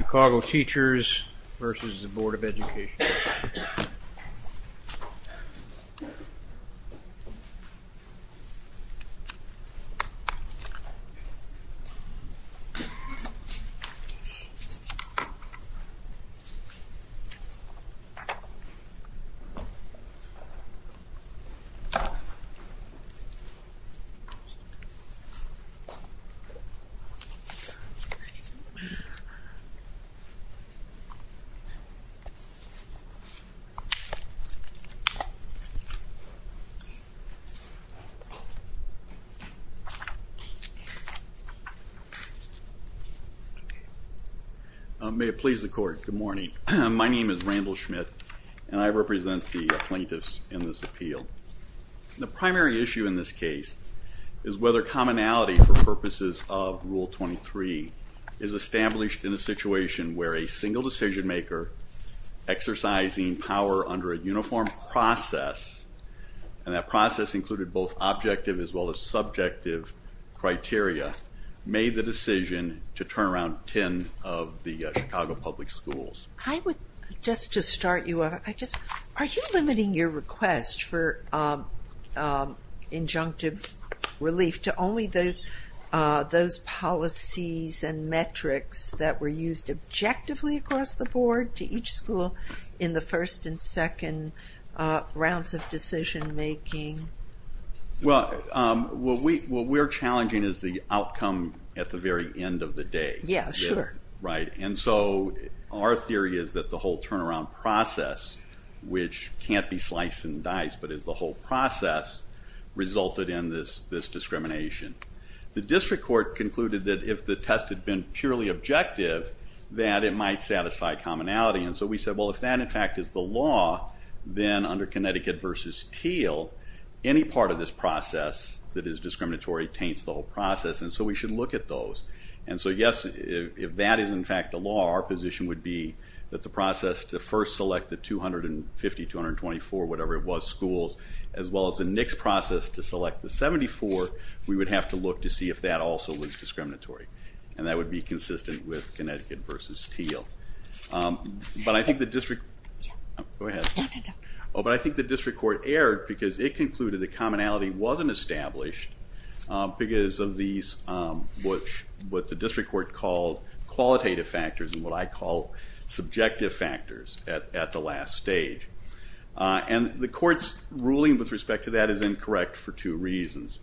Chicago Teachers v. Board of Education May it please the court, good morning. My name is Randall Schmidt and I represent the plaintiffs in this appeal. The primary issue in this case is whether commonality for purposes of Rule 23 is established in a situation where a single decision maker exercising power under a uniform process, and that process included both objective as well as subjective criteria, made the decision to turn around 10 of the Chicago public schools. I would just to start you off, I just, are you limiting your request for injunctive relief to only those policies and metrics that were used objectively across the board to each school in the first and second rounds of decision making? Well, what we are challenging is the outcome at the very end of the day. Yeah, sure. Right, and so our theory is that the whole turnaround process, which can't be sliced and diced, but is the whole process, resulted in this discrimination. The district court concluded that if the test had been purely objective, that it might satisfy commonality, and so we said, well if that in fact is the law, then under Connecticut v. Teal, any part of this process that is discriminatory taints the whole process, and so we should look at those. And so yes, if that is in fact the law, our position would be that the process to first select the 250, 224, whatever it was, schools, as well as the NICS process to select the 74, we would have to look to see if that also was discriminatory, and that would be consistent with Connecticut v. Teal. But I think the district court erred because it concluded that commonality wasn't established because of these, what the district court called qualitative factors and what I call subjective factors at the last stage. And the court's ruling with respect to that is incorrect for two reasons.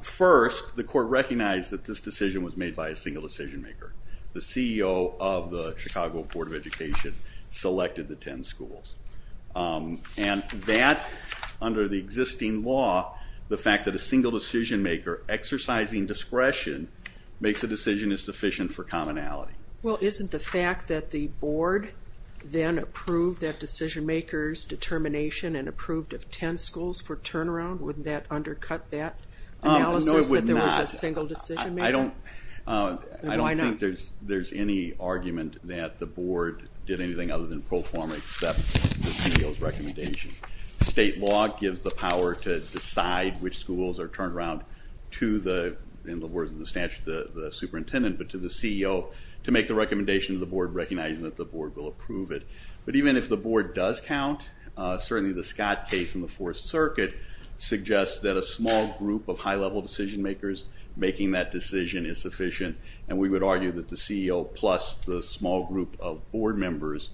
First, the court recognized that this decision was made by a single decision maker. The CEO of the Chicago Board of Education selected the 10 schools. And that, under the existing law, the fact that a single decision maker, exercising discretion, makes a decision is sufficient for commonality. Well isn't the fact that the board then approved that decision maker's determination and approved of 10 schools for turnaround, wouldn't that undercut that analysis that there was a single decision maker? I don't think there's any argument that the board did anything other than pro forma except the CEO's recommendation. State law gives the power to decide which schools are turned around to the, in the words of the statute, the superintendent, but to the CEO to make the recommendation to the board recognizing that the board will approve it. But even if the board does count, certainly the Scott case in the Fourth Circuit suggests that a small group of high-level decision makers making that decision is sufficient and we would argue that the CEO plus the small group of board members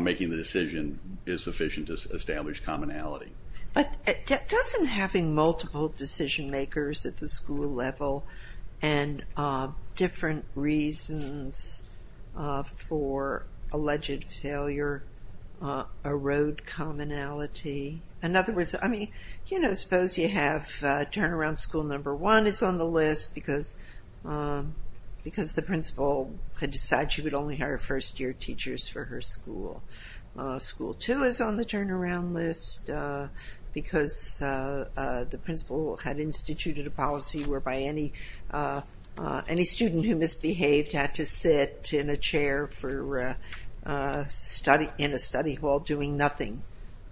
making the decision is sufficient to establish commonality. But doesn't having multiple decision makers at the school level and different reasons for alleged failure erode commonality? In other words, I mean, you know, suppose you have turnaround school number one is on the list because the principal had decided she would only hire first-year teachers for her school. School two is on the turnaround list because the principal had instituted a policy whereby any student who misbehaved had to sit in a chair for, in a study hall doing nothing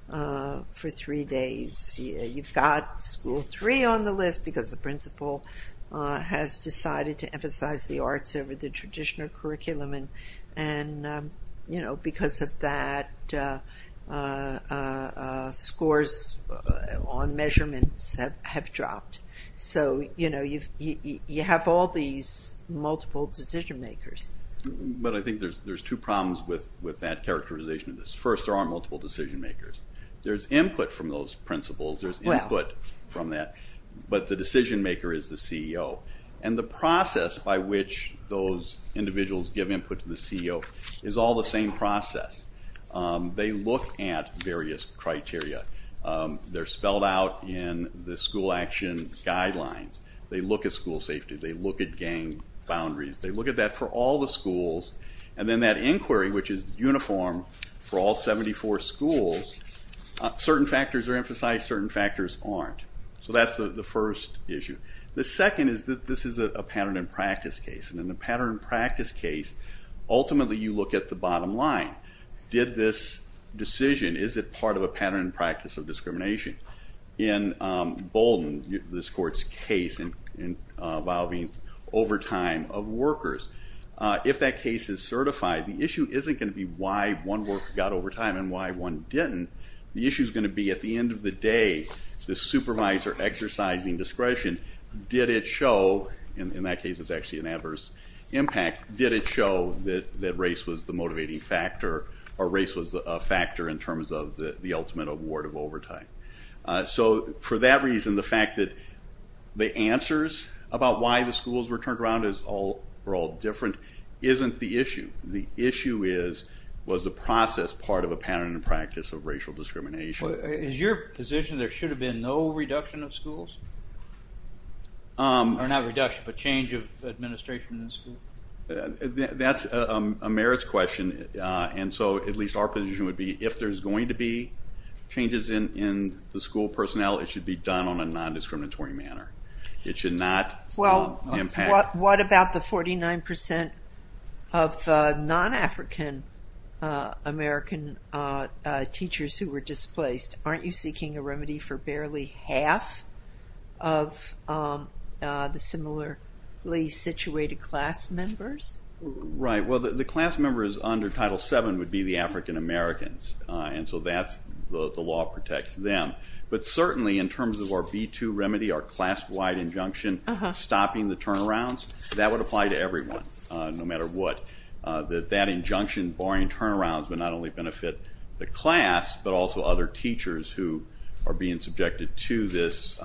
for three days. You've got school three on the list because the principal has decided to emphasize the arts over the traditional curriculum and, you know, because of that scores on measurements have dropped. So, you know, you have all these multiple decision makers. But I think there's two problems with that characterization of this. First, there are multiple decision makers. There's input from those principals, there's input from that, but the decision maker is the CEO. And the process by which those individuals give input to the CEO is all the same process. They look at various criteria. They're spelled out in the school action guidelines. They look at school safety. They look at gang boundaries. They look at that for all the schools. And then that inquiry, which is uniform for all 74 schools, certain factors are emphasized, certain factors aren't. So that's the first issue. The second is that this is a pattern and practice case. And in the pattern and practice case, ultimately you look at the bottom line. Did this decision, is it part of a pattern and practice of discrimination? In Bolden, this court's case involving overtime of workers, if that case is certified, the issue isn't going to be why one worker got overtime and why one didn't. The issue is going to be at the end of the day, the supervisor exercising discretion, did it show, and in that case it's actually an adverse impact, did it show that race was the motivating factor or race was a factor in terms of the ultimate award of overtime. So for that reason, the fact that the answers about why the schools were turned around are all different isn't the issue. The issue is, was the process part of a pattern and practice of racial discrimination? Is your position there should have been no reduction of schools? Or not reduction, but change of administration in the school? That's a merits question. And so at least our position would be, if there's going to be changes in the school personnel, it should be done on a non-discriminatory manner. It should not impact. What about the 49% of non-African American teachers who were displaced? Aren't you seeking a remedy for barely half of the similarly situated class members? Right, well the class members under Title VII would be the African Americans. And so that's, the law protects them. But certainly in terms of our B-2 remedy, our class-wide injunction stopping the turnarounds, that would apply to everyone, no matter what. That injunction barring turnarounds would not only benefit the class, but also other teachers who are being subjected to this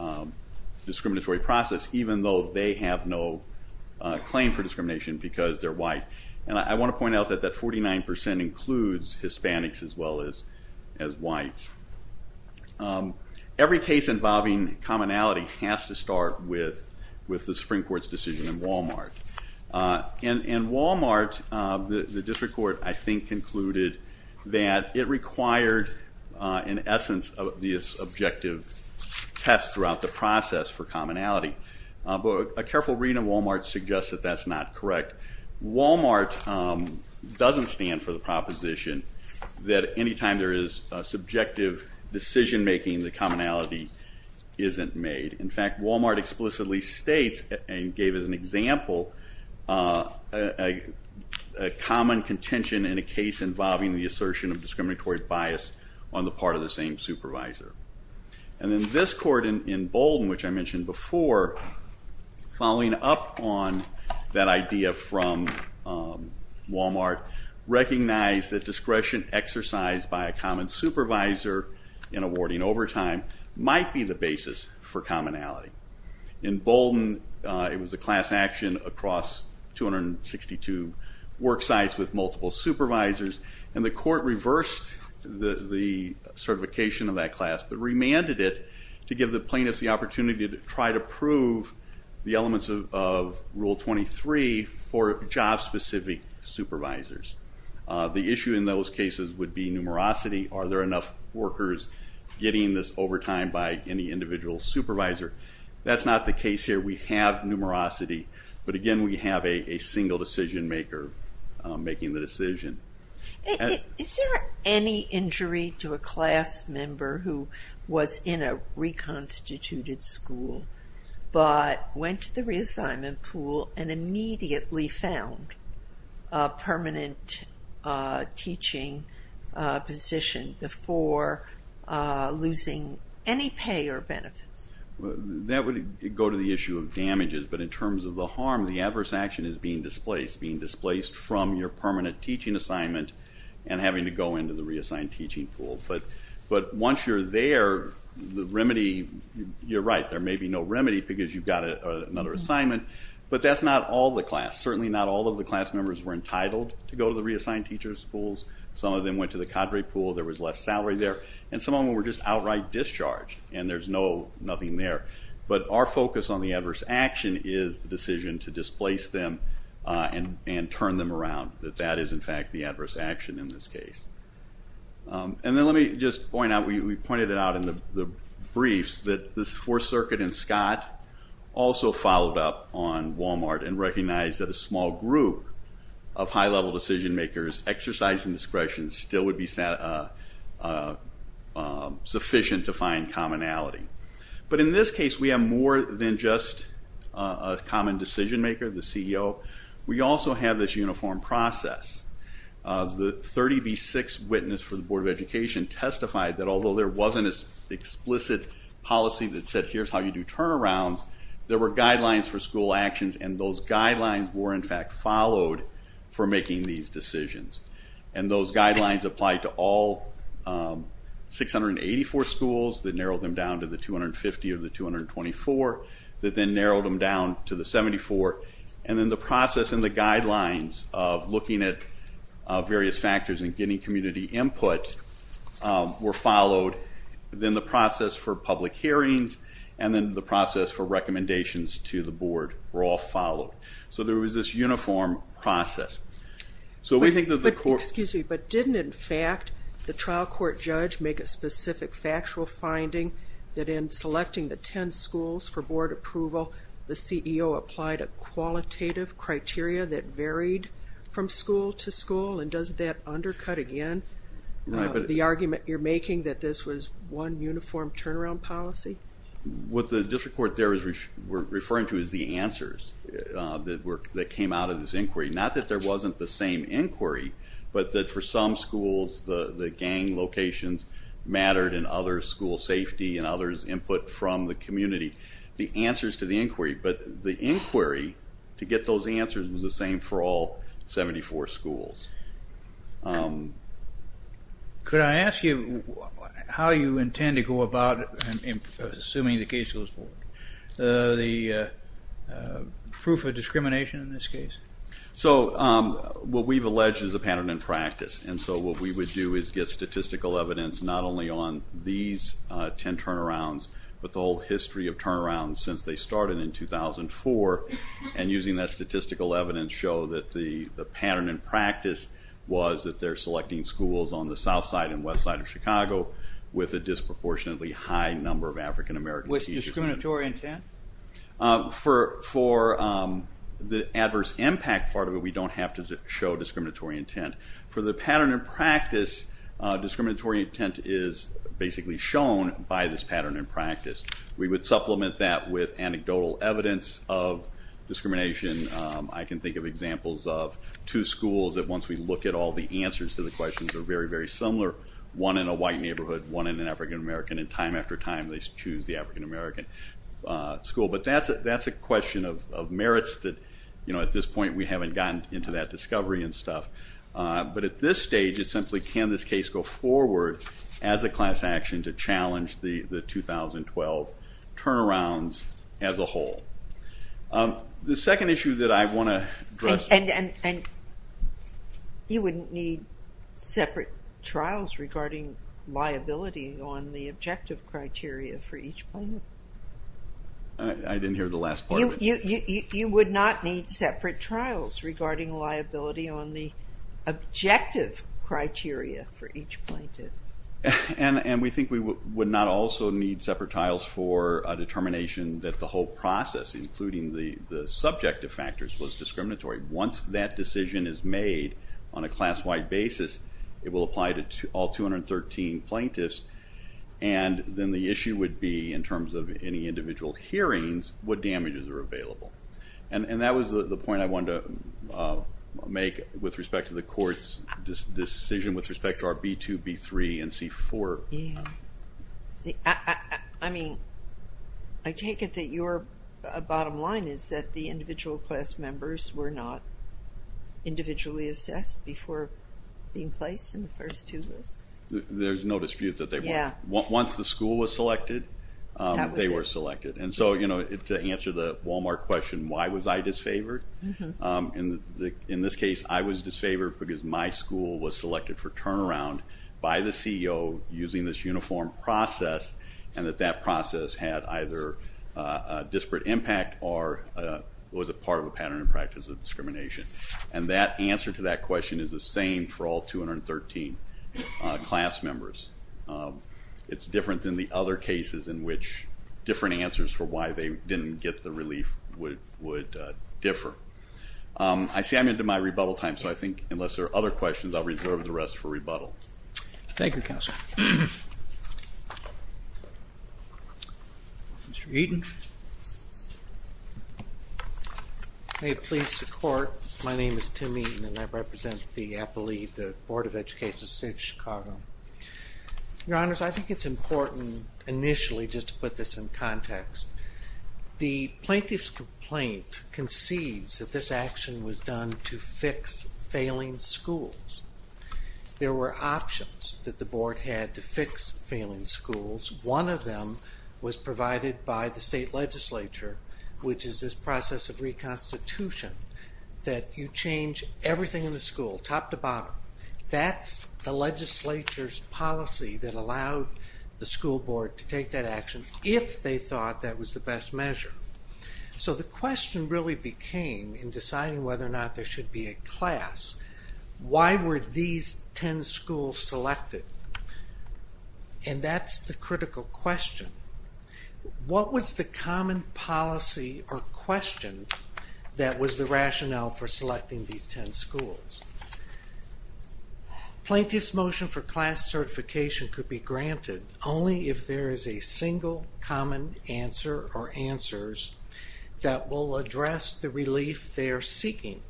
discriminatory process, even though they have no claim for discrimination because they're white. And I want to point out that that 49% includes Hispanics as well as whites. Every case involving commonality has to start with the Supreme Court's decision in Walmart. In Walmart, the district court, I think, concluded that it required, in essence, an objective test throughout the process for commonality. But a careful read in Walmart suggests that that's not correct. Walmart doesn't stand for the proposition that anytime there is subjective decision-making, the commonality isn't made. In fact, Walmart explicitly states and gave as an example a common contention in a case involving the assertion of discriminatory bias on the part of the same supervisor. And then this court in Bolden, which I mentioned before, following up on that idea from Walmart, recognized that discretion exercised by a common supervisor in awarding overtime might be the basis for commonality. In Bolden, the class action across 262 worksites with multiple supervisors, and the court reversed the certification of that class but remanded it to give the plaintiffs the opportunity to try to prove the elements of Rule 23 for job-specific supervisors. The issue in those cases would be numerosity. Are there enough workers getting this overtime by any individual supervisor? That's not the case. It's not numerosity. But again, we have a single decision-maker making the decision. Is there any injury to a class member who was in a reconstituted school but went to the reassignment pool and immediately found a permanent teaching position before losing any pay or benefits? That would go to the issue of damages, but in terms of the harm, the adverse action is being displaced, being displaced from your permanent teaching assignment and having to go into the reassigned teaching pool. But once you're there, the remedy—you're right, there may be no remedy because you got another assignment, but that's not all the class. Certainly not all of the class members were entitled to go to the reassigned teacher schools. Some of them went to the cadre pool. There was less salary there. And some of them were just outright discharged, and there's nothing there. But our focus on the adverse action is the decision to displace them and turn them around. That that is, in fact, the adverse action in this case. And then let me just point out, we pointed it out in the briefs, that the Fourth Circuit and Scott also followed up on Walmart and recognized that a small group of high-level decision-makers, exercising discretion, still would be sufficient to find commonality. But in this case, we have more than just a common decision-maker, the CEO. We also have this uniform process. The 30B6 witness for the Board of Education testified that although there wasn't an explicit policy that said, here's how you do turnarounds, there were these decisions. And those guidelines applied to all 684 schools, that narrowed them down to the 250 of the 224, that then narrowed them down to the 74. And then the process and the guidelines of looking at various factors and getting community input were followed. Then the process for public hearings and then the process for recommendations to the Board were all followed. So there was this uniform process. So we think that the court... Excuse me, but didn't, in fact, the trial court judge make a specific factual finding that in selecting the 10 schools for board approval, the CEO applied a qualitative criteria that varied from school to school? And doesn't that undercut, again, the argument you're making that this was one uniform turnaround policy? What the district court there is referring to is the answers that came out of this inquiry. Not that there wasn't the same inquiry, but that for some schools the gang locations mattered and others school safety and others input from the community. The answers to the inquiry, but the inquiry to get those answers was the same for all 74 schools. Could I ask you how you intend to go about, assuming the case goes forward, the proof of discrimination in this case? So what we've alleged is a pattern in practice. And so what we would do is get statistical evidence not only on these 10 turnarounds, but the whole history of turnarounds since they started in 2004, and using that statistical evidence show that the pattern in practice was that they're selecting schools on the south side and west side of Chicago with a disproportionately high number of African-American teachers. With discriminatory intent? For the adverse impact part of it, we don't have to show discriminatory intent. For the pattern in practice, discriminatory intent is basically shown by this pattern in practice. We would supplement that with anecdotal evidence of discrimination. I can think of examples of two schools that once we look at all the answers to the questions are very, very similar. One in a white neighborhood, one in an African-American, and time after time they choose the African-American school. But that's a question of merits that at this point we haven't gotten into that discovery and stuff. But at this stage it's simply can this case go forward as a class action to challenge the 2012 turnarounds as a whole? The second issue that I want to address- You wouldn't need separate trials regarding liability on the objective criteria for each plaintiff? I didn't hear the last part of it. You would not need separate trials regarding liability on the objective criteria for each plaintiff? And we think we would not also need separate trials for a determination that the whole process including the subjective factors was discriminatory. Once that decision is made on a class-wide basis, it will apply to all 213 plaintiffs. And then the issue would be in terms of any individual hearings, what damages are available? And that was the point I wanted to make with respect to the court's decision with respect to our B2, B3, and C4. I take it that your bottom line is that the individual class members were not individually assessed before being placed in the first two lists? There's no dispute that they were. Once the school was selected, they were selected. And to answer the Wal-Mart question, why was I disfavored? In this case, I was disfavored because my school was selected for turnaround by the CEO using this uniform process and that that process had either a disparate impact or was a part of a pattern and practice of discrimination. And that answer to that question is the same for all 213 class members. It's different than the other cases in which different answers for why they didn't get the relief would differ. I see I'm into my rebuttal time, so I think unless there are other questions, I'll reserve the rest for rebuttal. Thank you, Counsel. Mr. Eaton. May it please the Court, my name is Tim Eaton and I represent the, I believe, the Board of Education of the State of Chicago. Your question was important initially, just to put this in context. The plaintiff's complaint concedes that this action was done to fix failing schools. There were options that the board had to fix failing schools. One of them was provided by the state legislature, which is this process of reconstitution, that you change everything in the school, top to bottom. That's the legislature's policy that allowed the school board to take that action if they thought that was the best measure. So the question really became, in deciding whether or not there should be a class, why were these ten schools selected? And that's the critical question. What was the common policy or question that was the rationale for selecting these ten schools? Plaintiff's motion for class certification could be granted only if there is a single common answer or answers that will address the relief they are seeking.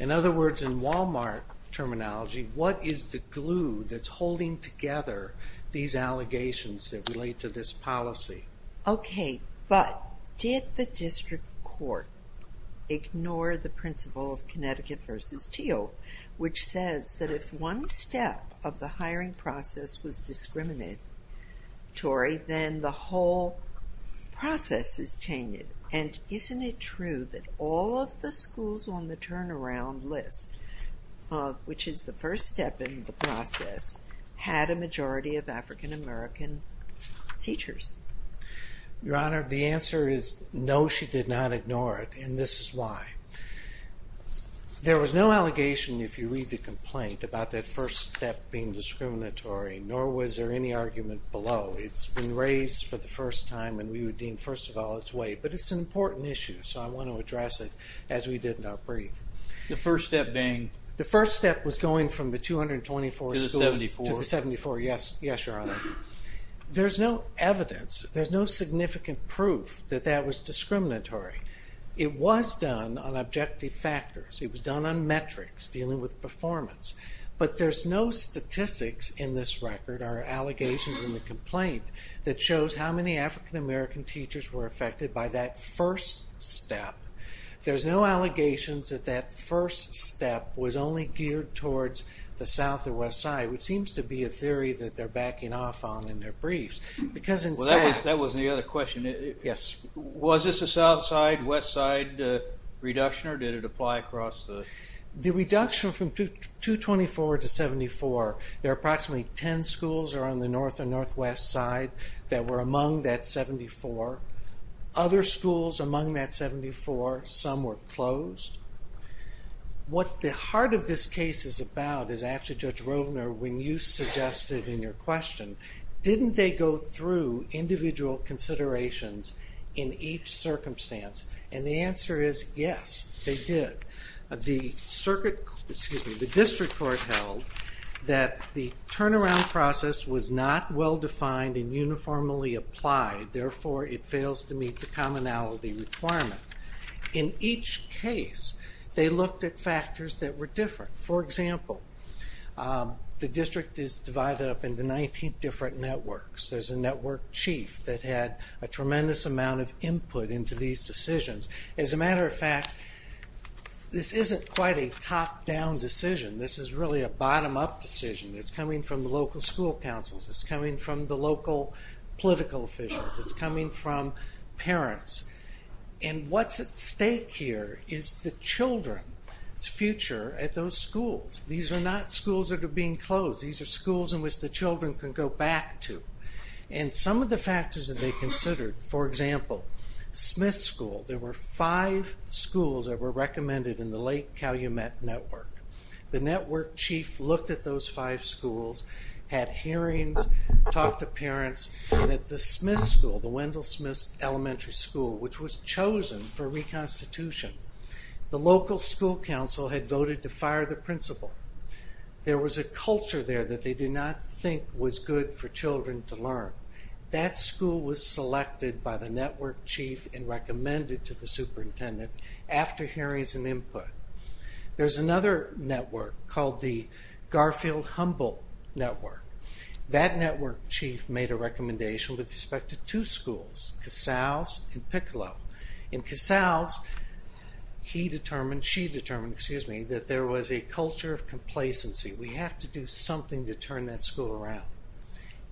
In other words, in Walmart terminology, what is the glue that's holding together these allegations that relate to this policy? Okay, but did the district court ignore the first step in the process, which is TEOP, which says that if one step of the hiring process was discriminatory, then the whole process is changed. And isn't it true that all of the schools on the turnaround list, which is the first step in the process, had a majority of African American teachers? Your Honor, the answer is no, she did not ignore it, and this is why. There was no allegation, if you read the complaint, about that first step being discriminatory, nor was there any argument below. It's been raised for the first time and we would deem, first of all, it's way. But it's an important issue, so I want to address it as we did in our brief. The first step being? The first step was going from the 224 schools to the 74. Yes, Your Honor. There's no evidence, there's no significant proof that that was discriminatory. It was done on objective factors, it was done on metrics dealing with performance. But there's no statistics in this record or allegations in the complaint that shows how many African American teachers were affected by that first step. There's no allegations that that first step was only geared towards the south or west side, which seems to be a theory that they're backing off on in their briefs. Because in fact- Well that was the other question. Yes. Was this a south side, west side reduction or did it apply across the- The reduction from 224 to 74, there are approximately 10 schools that are on the north or northwest side that were among that 74. Other schools among that 74, some were closed. What the heart of this case is about is actually, Judge did you do individual considerations in each circumstance? And the answer is, yes, they did. The circuit, excuse me, the district court held that the turnaround process was not well defined and uniformly applied, therefore it fails to meet the commonality requirement. In each case, they looked at factors that were different. For example, the district is divided up into 19 different networks. There's a network chief that had a tremendous amount of input into these decisions. As a matter of fact, this isn't quite a top down decision. This is really a bottom up decision. It's coming from the local school councils. It's coming from the local political officials. It's coming from parents. And what's at stake here is the children's future at those schools. These are not schools that are being closed. These are schools in which the children can go back to. And some of the factors that they considered, for example, Smith School. There were five schools that were recommended in the Lake Calumet network. The network chief looked at those five schools, had hearings, talked to parents. And at the Smith School, the Wendell Smith Elementary School, which was chosen for reconstitution, the local school council had voted to fire the principal. There was a culture there that they did not think was good for children to learn. That school was selected by the network chief and recommended to the superintendent after hearings and input. There's another network called the Garfield Humble Network. That network chief made a recommendation with respect to two schools, Casals and Piccolo. In Casals, he determined, and she determined, excuse me, that there was a culture of complacency. We have to do something to turn that school around.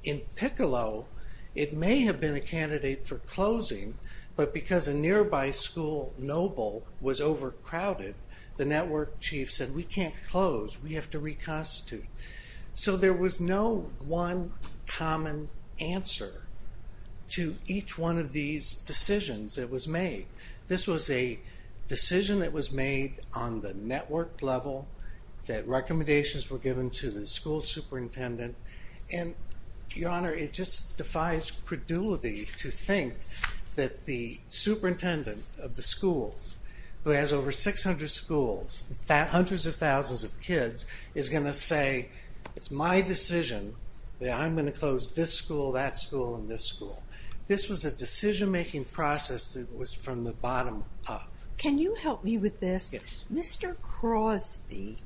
In Piccolo, it may have been a candidate for closing, but because a nearby school, Noble, was overcrowded, the network chief said, we can't close. We have to reconstitute. So there was no one common answer to each one of these decisions that was made. This was a decision that was made on the network level, that recommendations were given to the school superintendent. And your honor, it just defies credulity to think that the superintendent of the schools, who has over 600 schools, hundreds of thousands of kids, is going to say, it's my decision that I'm going to close this school, that was from the bottom up. Can you help me with this? Mr. Crosby,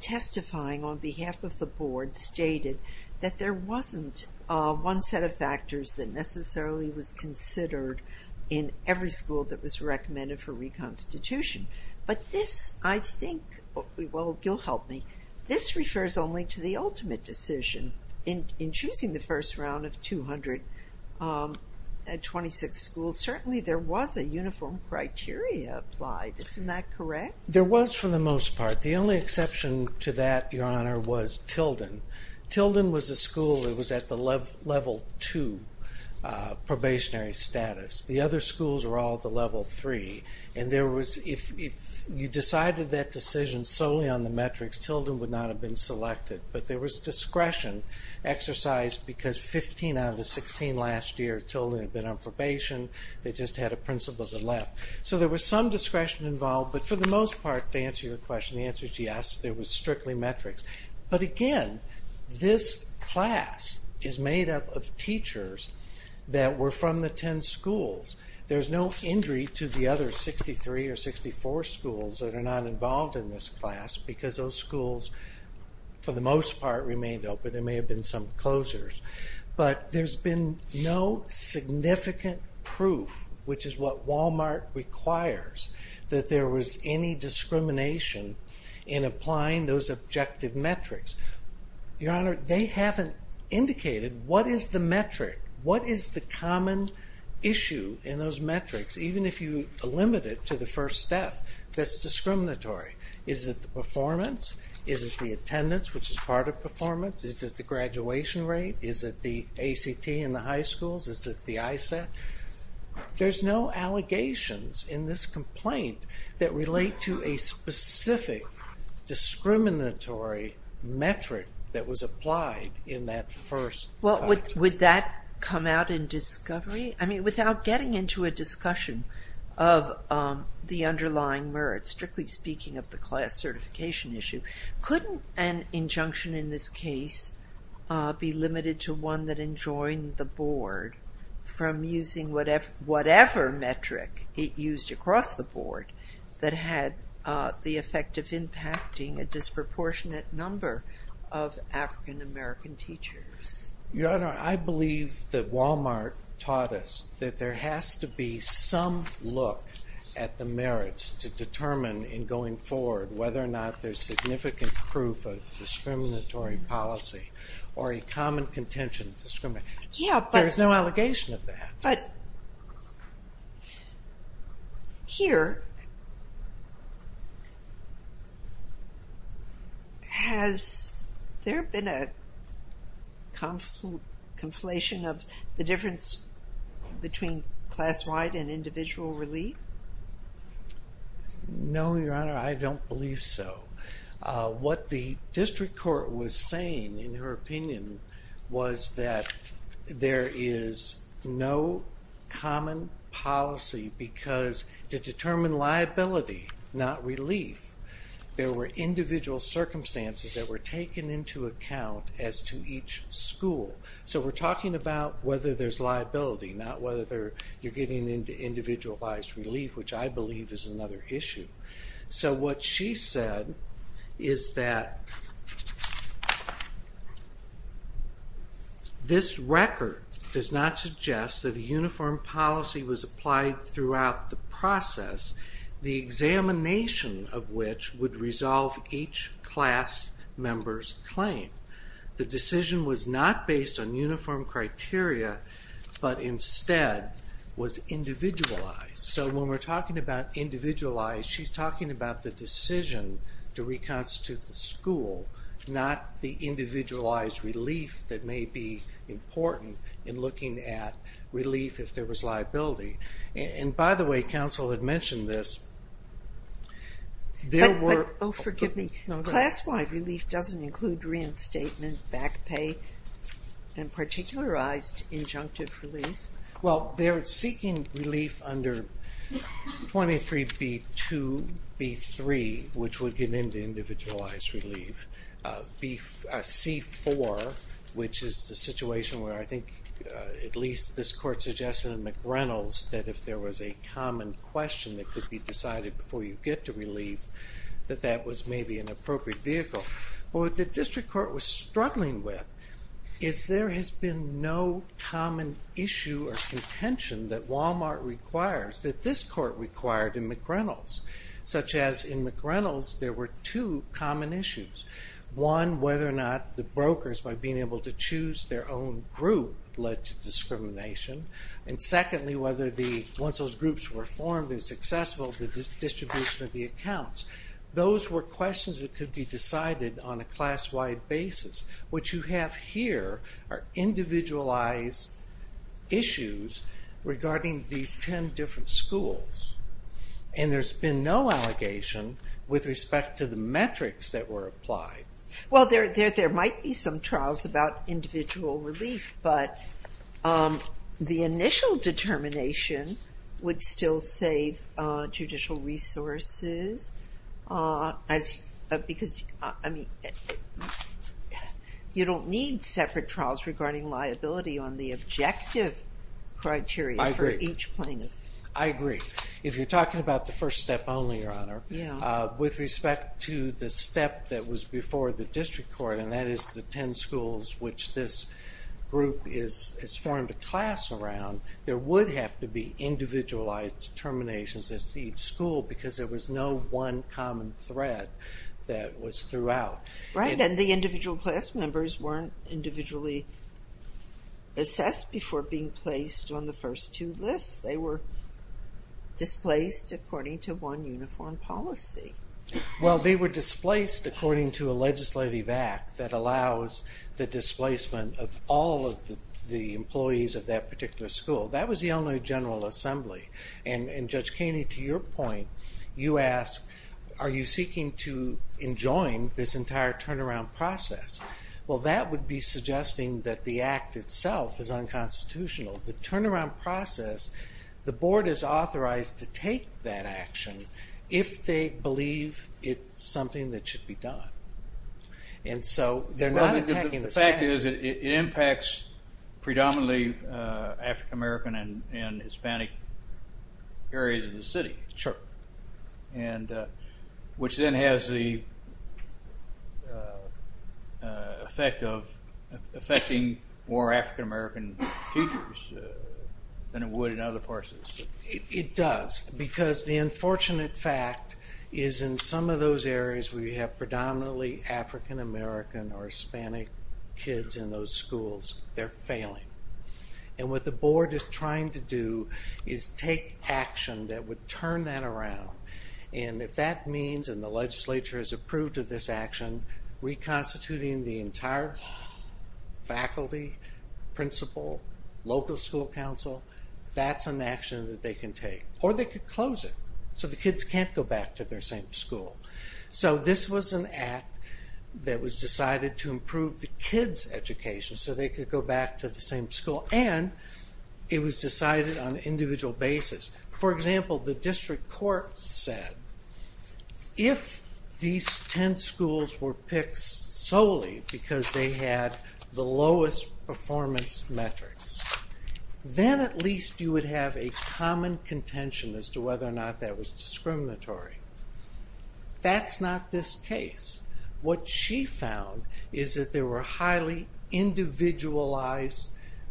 testifying on behalf of the board, stated that there wasn't one set of factors that necessarily was considered in every school that was recommended for reconstitution. But this, I think, well, you'll help me, this refers only to the ultimate decision. In choosing the first round of 226 schools, certainly there was a uniform criteria applied. Isn't that correct? There was for the most part. The only exception to that, your honor, was Tilden. Tilden was a school that was at the level two probationary status. The other schools were all at the level three. And there was, if you decided that decision solely on the metrics, Tilden would not have been selected. But there was discretion exercised because 15 out of the 16 last year, Tilden had been on probation, they just had a principal that left. So there was some discretion involved, but for the most part, to answer your question, the answer is yes, there was strictly metrics. But again, this class is made up of teachers that were from the 10 schools. There's no injury to the other 63 or 64 schools that are not involved in this class because those schools for the most part remained open. There may have been some closures, but there's been no significant proof, which is what Walmart requires, that there was any discrimination in applying those objective metrics. Your honor, they haven't indicated what is the metric, what is the common issue in those metrics, even if you limit it to the first step, that's discriminatory. Is it the performance? Is it the attendance, which is part of performance? Is it the graduation rate? Is it the ACT in the high schools? Is it the ISET? There's no allegations in this complaint that relate to a specific discriminatory metric that was applied in that first step. Well, would that come out in discovery? I mean, without getting into a discussion of the underlying merits, strictly speaking of the class certification issue, couldn't an injunction in this case be limited to one that enjoined the board from using whatever metric it used across the board that had the effect of impacting a disproportionate number of African-American teachers? Your honor, I believe that Walmart taught us that there has to be some look at the merits to determine in going forward whether or not there's significant proof of discriminatory policy or a common contention. There's no allegation of that. But here, has there been a conflation of the difference between class-wide and individual relief? No, your honor, I don't believe so. What the district court was saying in her opinion was that there is no common policy because to determine liability, not relief, there were individual circumstances that were taken into account as to each school. So we're talking about whether there's liability, not whether you're getting into individualized relief, which I believe is another issue. So what she said is that this record does not suggest that a uniform policy was applied throughout the process, the examination of which would resolve each class member's claim. The decision was not based on uniform criteria, but instead was individualized. So when we're talking about individualized, she's talking about the decision to reconstitute the school, not the individualized relief that may be important in looking at relief if there was liability. And by the way, counsel had mentioned this. But, oh forgive me, class-wide relief doesn't include reinstatement, back pay, and particularized injunctive relief? Well, they're seeking relief under 23B2, B3, which would get into individualized relief. C4, which is the situation where I think at least this court suggested in McReynolds that if there was a common question that could be decided before you get to relief, that that was maybe an appropriate vehicle. But what the district court was struggling with is there has been no common issue or contention that Walmart requires that this court required in McReynolds, such as in McReynolds there were two common issues. One, whether or not the brokers, by being able to choose their own group, led to discrimination. And secondly, once those groups were formed and successful, the distribution of the accounts. Those were here are individualized issues regarding these 10 different schools. And there's been no allegation with respect to the metrics that were applied. Well, there might be some trials about individual relief, but the initial determination would still save judicial resources because, I mean, you don't need separate trials regarding liability on the objective criteria for each plaintiff. I agree. If you're talking about the first step only, Your Honor, with respect to the step that was before the district court, and that is the 10 schools which this group has be individualized determinations as to each school because there was no one common thread that was throughout. Right, and the individual class members weren't individually assessed before being placed on the first two lists. They were displaced according to one uniform policy. Well, they were displaced according to a legislative act that allows the displacement of all of the employees of that particular school. That was the Illinois General Assembly. And Judge Keeney, to your point, you ask, are you seeking to enjoin this entire turnaround process? Well, that would be suggesting that the act itself is unconstitutional. The turnaround process, the board is authorized to take that action if they believe it's something that should be done. And so they're not attacking the statute. The fact is, it impacts predominantly African American and Hispanic areas of the city, which then has the effect of affecting more African American teachers than it would in other parts of the city. It does, because the unfortunate fact is in some of those areas where you have predominantly African American or Hispanic kids in those schools, they're failing. And what the board is trying to do is take action that would turn that around. And if that means, and the legislature has approved of this action, reconstituting the entire faculty, principal, local school council, that's an action that they can take. Or they could close it, so the kids can't go back to their same school. So this was an act that was decided to improve the kids' education so they could go back to the same school. And it was decided on an individual basis. For example, the district court said, if these 10 schools were picked solely because they had the lowest performance metrics, then at least you would have a common contention as to whether or not that was discriminatory. That's not this case. What she found is that there were highly individualized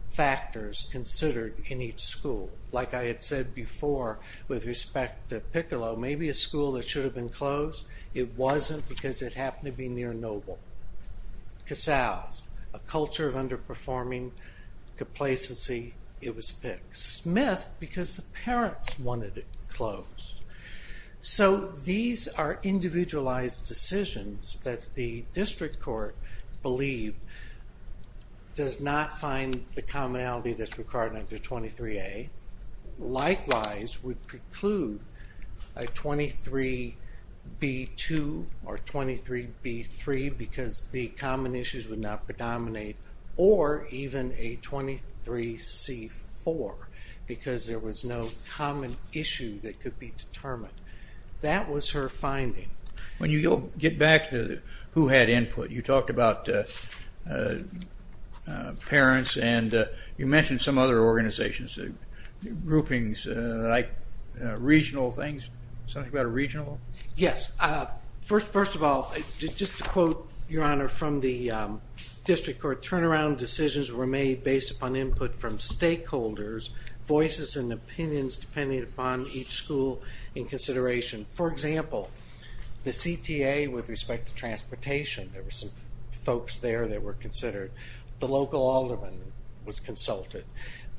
factors considered in each school. Like I had said before, with respect to Piccolo, maybe a school that should have been closed, it wasn't because it happened to be near Noble. Casals, a culture of underperforming complacency, it was picked. Smith, because the parents wanted it closed. So these are individualized decisions that the district court believe does not find the commonality that's required under 23A. Likewise, we preclude a 23B2 or 23B3 because the common issues would not predominate, or even a 23C4 because there was no common issue that could be determined. That was her finding. When you get back to who had input, you talked about parents and you mentioned some other organizations, groupings, like regional things. Yes. First of all, just to quote your honor from the district court, turnaround decisions were made based upon input from stakeholders, voices and opinions depending upon each school in consideration. For example, the CTA with respect to transportation, there were some folks there that were considered. The local alderman was consulted.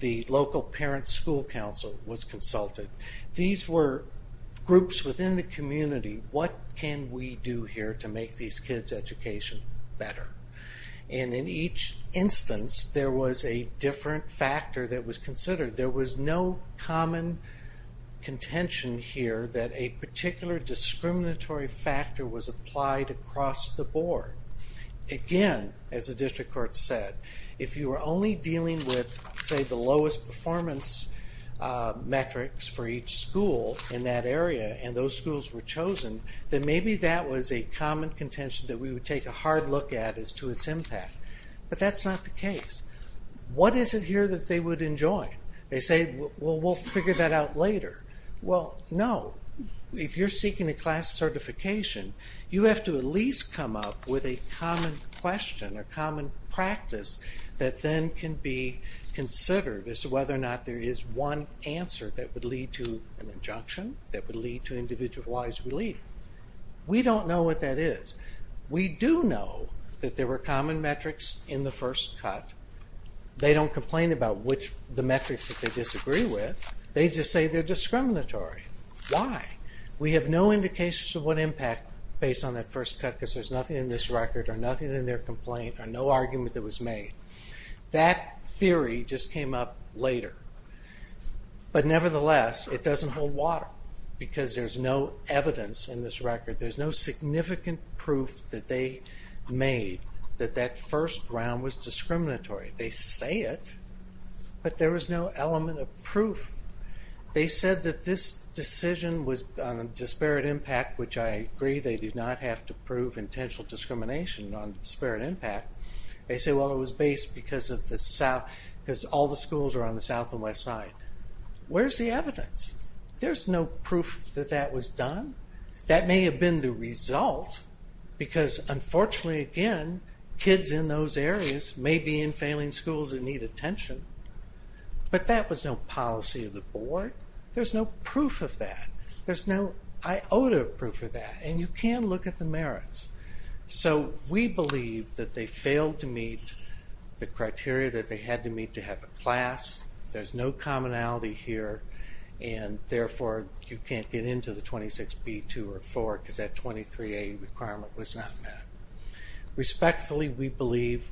The local parent school council was consulted. These were groups within the community. What can we do here to make these kids' education better? And in each instance, there was a different factor that was considered. There was no common contention here that a particular discriminatory factor was applied across the board. Again, as the district court said, if you were only dealing with, say, the lowest performance metrics for each school in that area and those schools were chosen, then maybe that was a common contention that we would take a hard look at as to its impact. But that's not the case. What is it here that they would enjoy? They say, well, we'll figure that out later. Well, no. If you're seeking a class certification, you have to at least come up with a common question, a common practice that then can be considered as to whether or not there is one answer that would lead to an injunction, that would lead to individualized relief. We don't know what that is. We do know that there were common metrics in the first cut. They don't complain about the metrics that they disagree with. They just say they're discriminatory. Why? We have no indications of what impact based on that first cut because there's nothing in this record or nothing in their complaint or no argument that was made. That theory just came up later. But nevertheless, it doesn't hold water because there's no evidence in this record. There's no significant proof that they made that that first round was discriminatory. They say it, but there was no element of proof. They said that this decision was on a disparate impact which I agree they did not have to prove intentional discrimination on disparate impact. They say, well, it was based because all the schools are on the south and west side. Where's the evidence? There's no proof that that was done. That may have been the result because unfortunately again, kids in those areas may be in failing schools that need attention. But that was no policy of the board. There's no proof of that. There's no, I owed a proof of that and you can look at the merits. So we believe that they failed to meet the criteria that they had to meet to have a class. There's no commonality here and therefore you can't get into the 26B2 or 4 because that 23A requirement was not met. Respectfully, we believe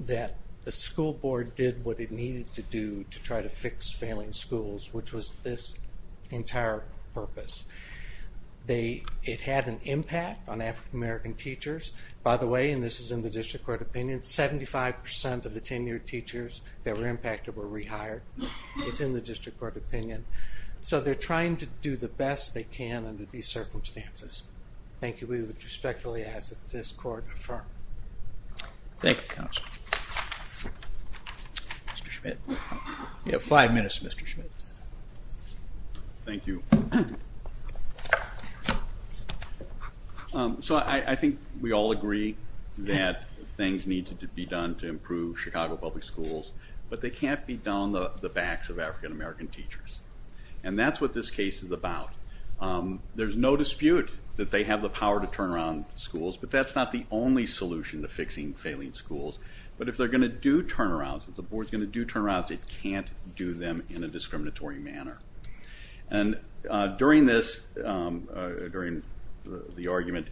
that the school board did what it needed to do to try to fix failing schools which was this entire purpose. They, it had an impact on African-American teachers. By the way, and this is in the district court opinion, 75% of the tenured teachers that were impacted were rehired. It's in the district court opinion. So they're trying to do the best they can under these circumstances. Thank you. We respectfully ask that this court affirm. Thank you counsel. Mr. Schmidt. You have five minutes Mr. Schmidt. Thank you. So I think we all agree that things need to be done to improve Chicago public schools, but they can't be done on the backs of African-American teachers. And that's what this case is about. There's no dispute that they have the power to turn around schools, but that's not the only solution to fixing failing schools. But if they're going to do turnarounds, if the board's going to do turnarounds, it can't do them in a discriminatory manner. And during this, during the argument,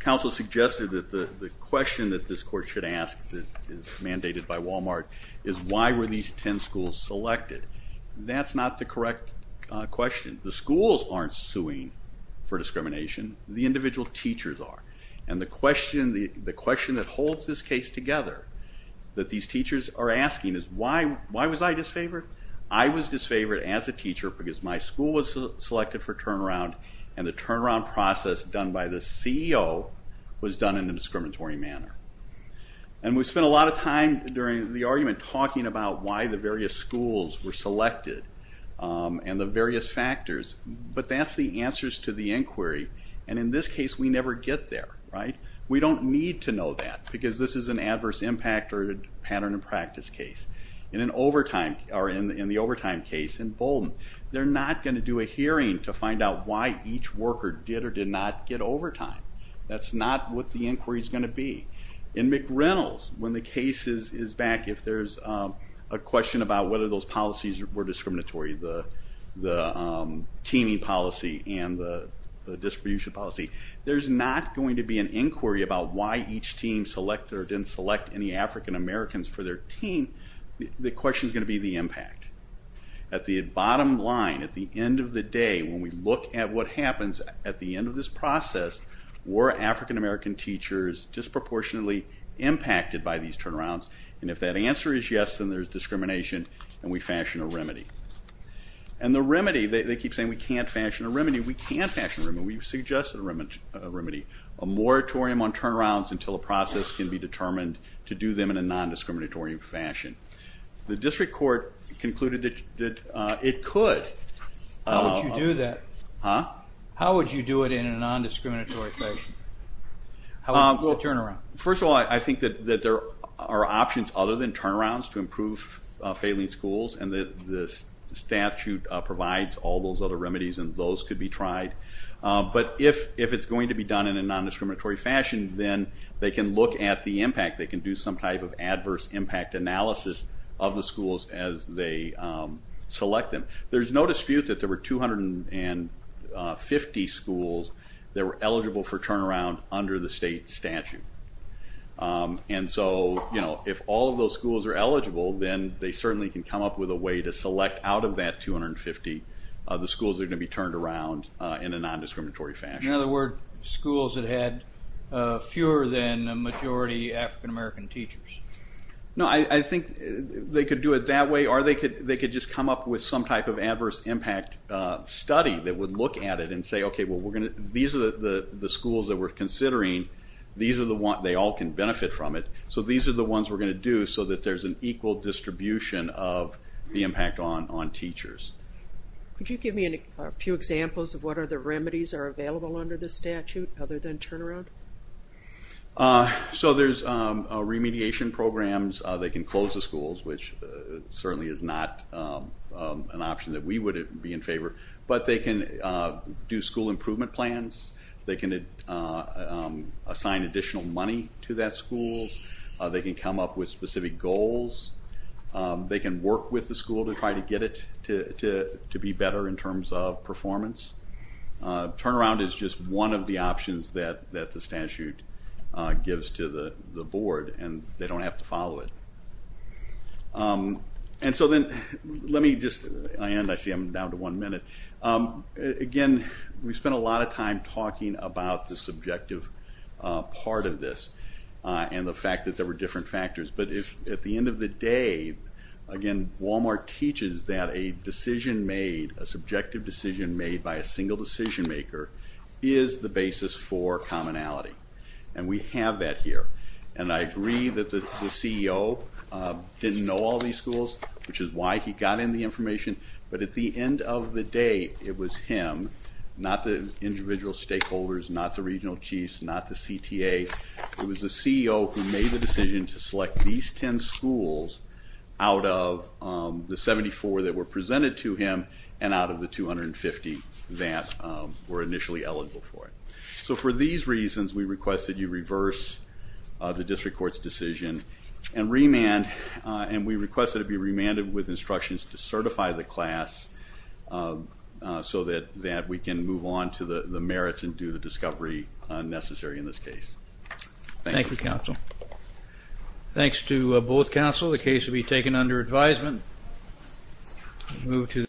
counsel suggested that the question that this court should ask that is mandated by Walmart is why were these ten schools selected? That's not the correct question. The schools aren't suing for discrimination. The individual teachers are. And the question that holds this case together that these teachers are asking is why was I disfavored? I was disfavored as a teacher because my school was selected for turnaround and the turnaround process done by the CEO was done in a discriminatory manner. And we spent a lot of time during the argument talking about why the various schools were selected and the various factors, but that's the answers to the inquiry. And in this case, we never get there, right? We don't need to know that because this is an adverse impact or pattern of practice case. In the overtime case in Bolton, they're not going to do a hearing to find out why each worker did or did not get overtime. That's not what the inquiry is going to be. In McReynolds, when the case is back, if there's a question about whether those policies were discriminatory, the teaming policy and the distribution policy, there's not going to be an inquiry about why each team selected or didn't select any African-Americans for their team. The question is going to be the impact. At the bottom line, at the end of the day, when we look at what happens at the end of this process, were African-American teachers disproportionately impacted by these And the remedy, they keep saying we can't fashion a remedy. We can't fashion a remedy. We've suggested a remedy. A moratorium on turnarounds until a process can be determined to do them in a non-discriminatory fashion. The district court concluded that it could. How would you do that? Huh? How would you do it in a non-discriminatory fashion? How would you do a turnaround? First of all, I think that there are options other than turnarounds to improve failing schools and the statute provides all those other remedies and those could be tried. But if it's going to be done in a non-discriminatory fashion, then they can look at the impact. They can do some type of adverse impact analysis of the schools as they select them. There's no dispute that there were 250 schools that were eligible for turnaround under the state statute. And so, you know, if all of those schools are eligible, then they certainly can come up with a way to select out of that 250 the schools that are going to be turned around in a non-discriminatory fashion. In other words, schools that had fewer than a majority African-American teachers. No, I think they could do it that way or they could just come up with some type of adverse impact study that would look at it and say, okay, well we're going to, these are the schools that we're considering. These are the ones, they all can benefit from it. So these are the ones we're going to do so that there's an equal distribution of the impact on teachers. Could you give me a few examples of what other remedies are available under the statute other than turnaround? So there's remediation programs. They can close the schools, which certainly is not an option that we would be in favor, but they can do school improvement plans, they can assign additional money to that school, they can come up with specific goals, they can work with the school to try to get it to be better in terms of performance. Turnaround is just one of the options that the statute gives to the board and they don't have to follow it. And so then, let me just, I see I'm down to one minute. Again, we spent a lot of time talking about the subjective part of this and the fact that there were different factors, but at the end of the day, again, Walmart teaches that a decision made, a subjective decision made by a single decision maker is the basis for commonality and we have that here. And I agree that the CEO didn't know all these schools, which is why he got in the information, but at the end of the day, it was him, not the individual stakeholders, not the regional chiefs, not the CTA, it was the CEO who made the decision to select these 10 schools out of the 74 that were presented to him and out of the 250 that were initially eligible for it. So for these reasons, we court's decision and remand, and we request that it be remanded with instructions to certify the class so that we can move on to the merits and do the discovery necessary in this case. Thank you, counsel. Thanks to both counsel. The case will be taken under advisement.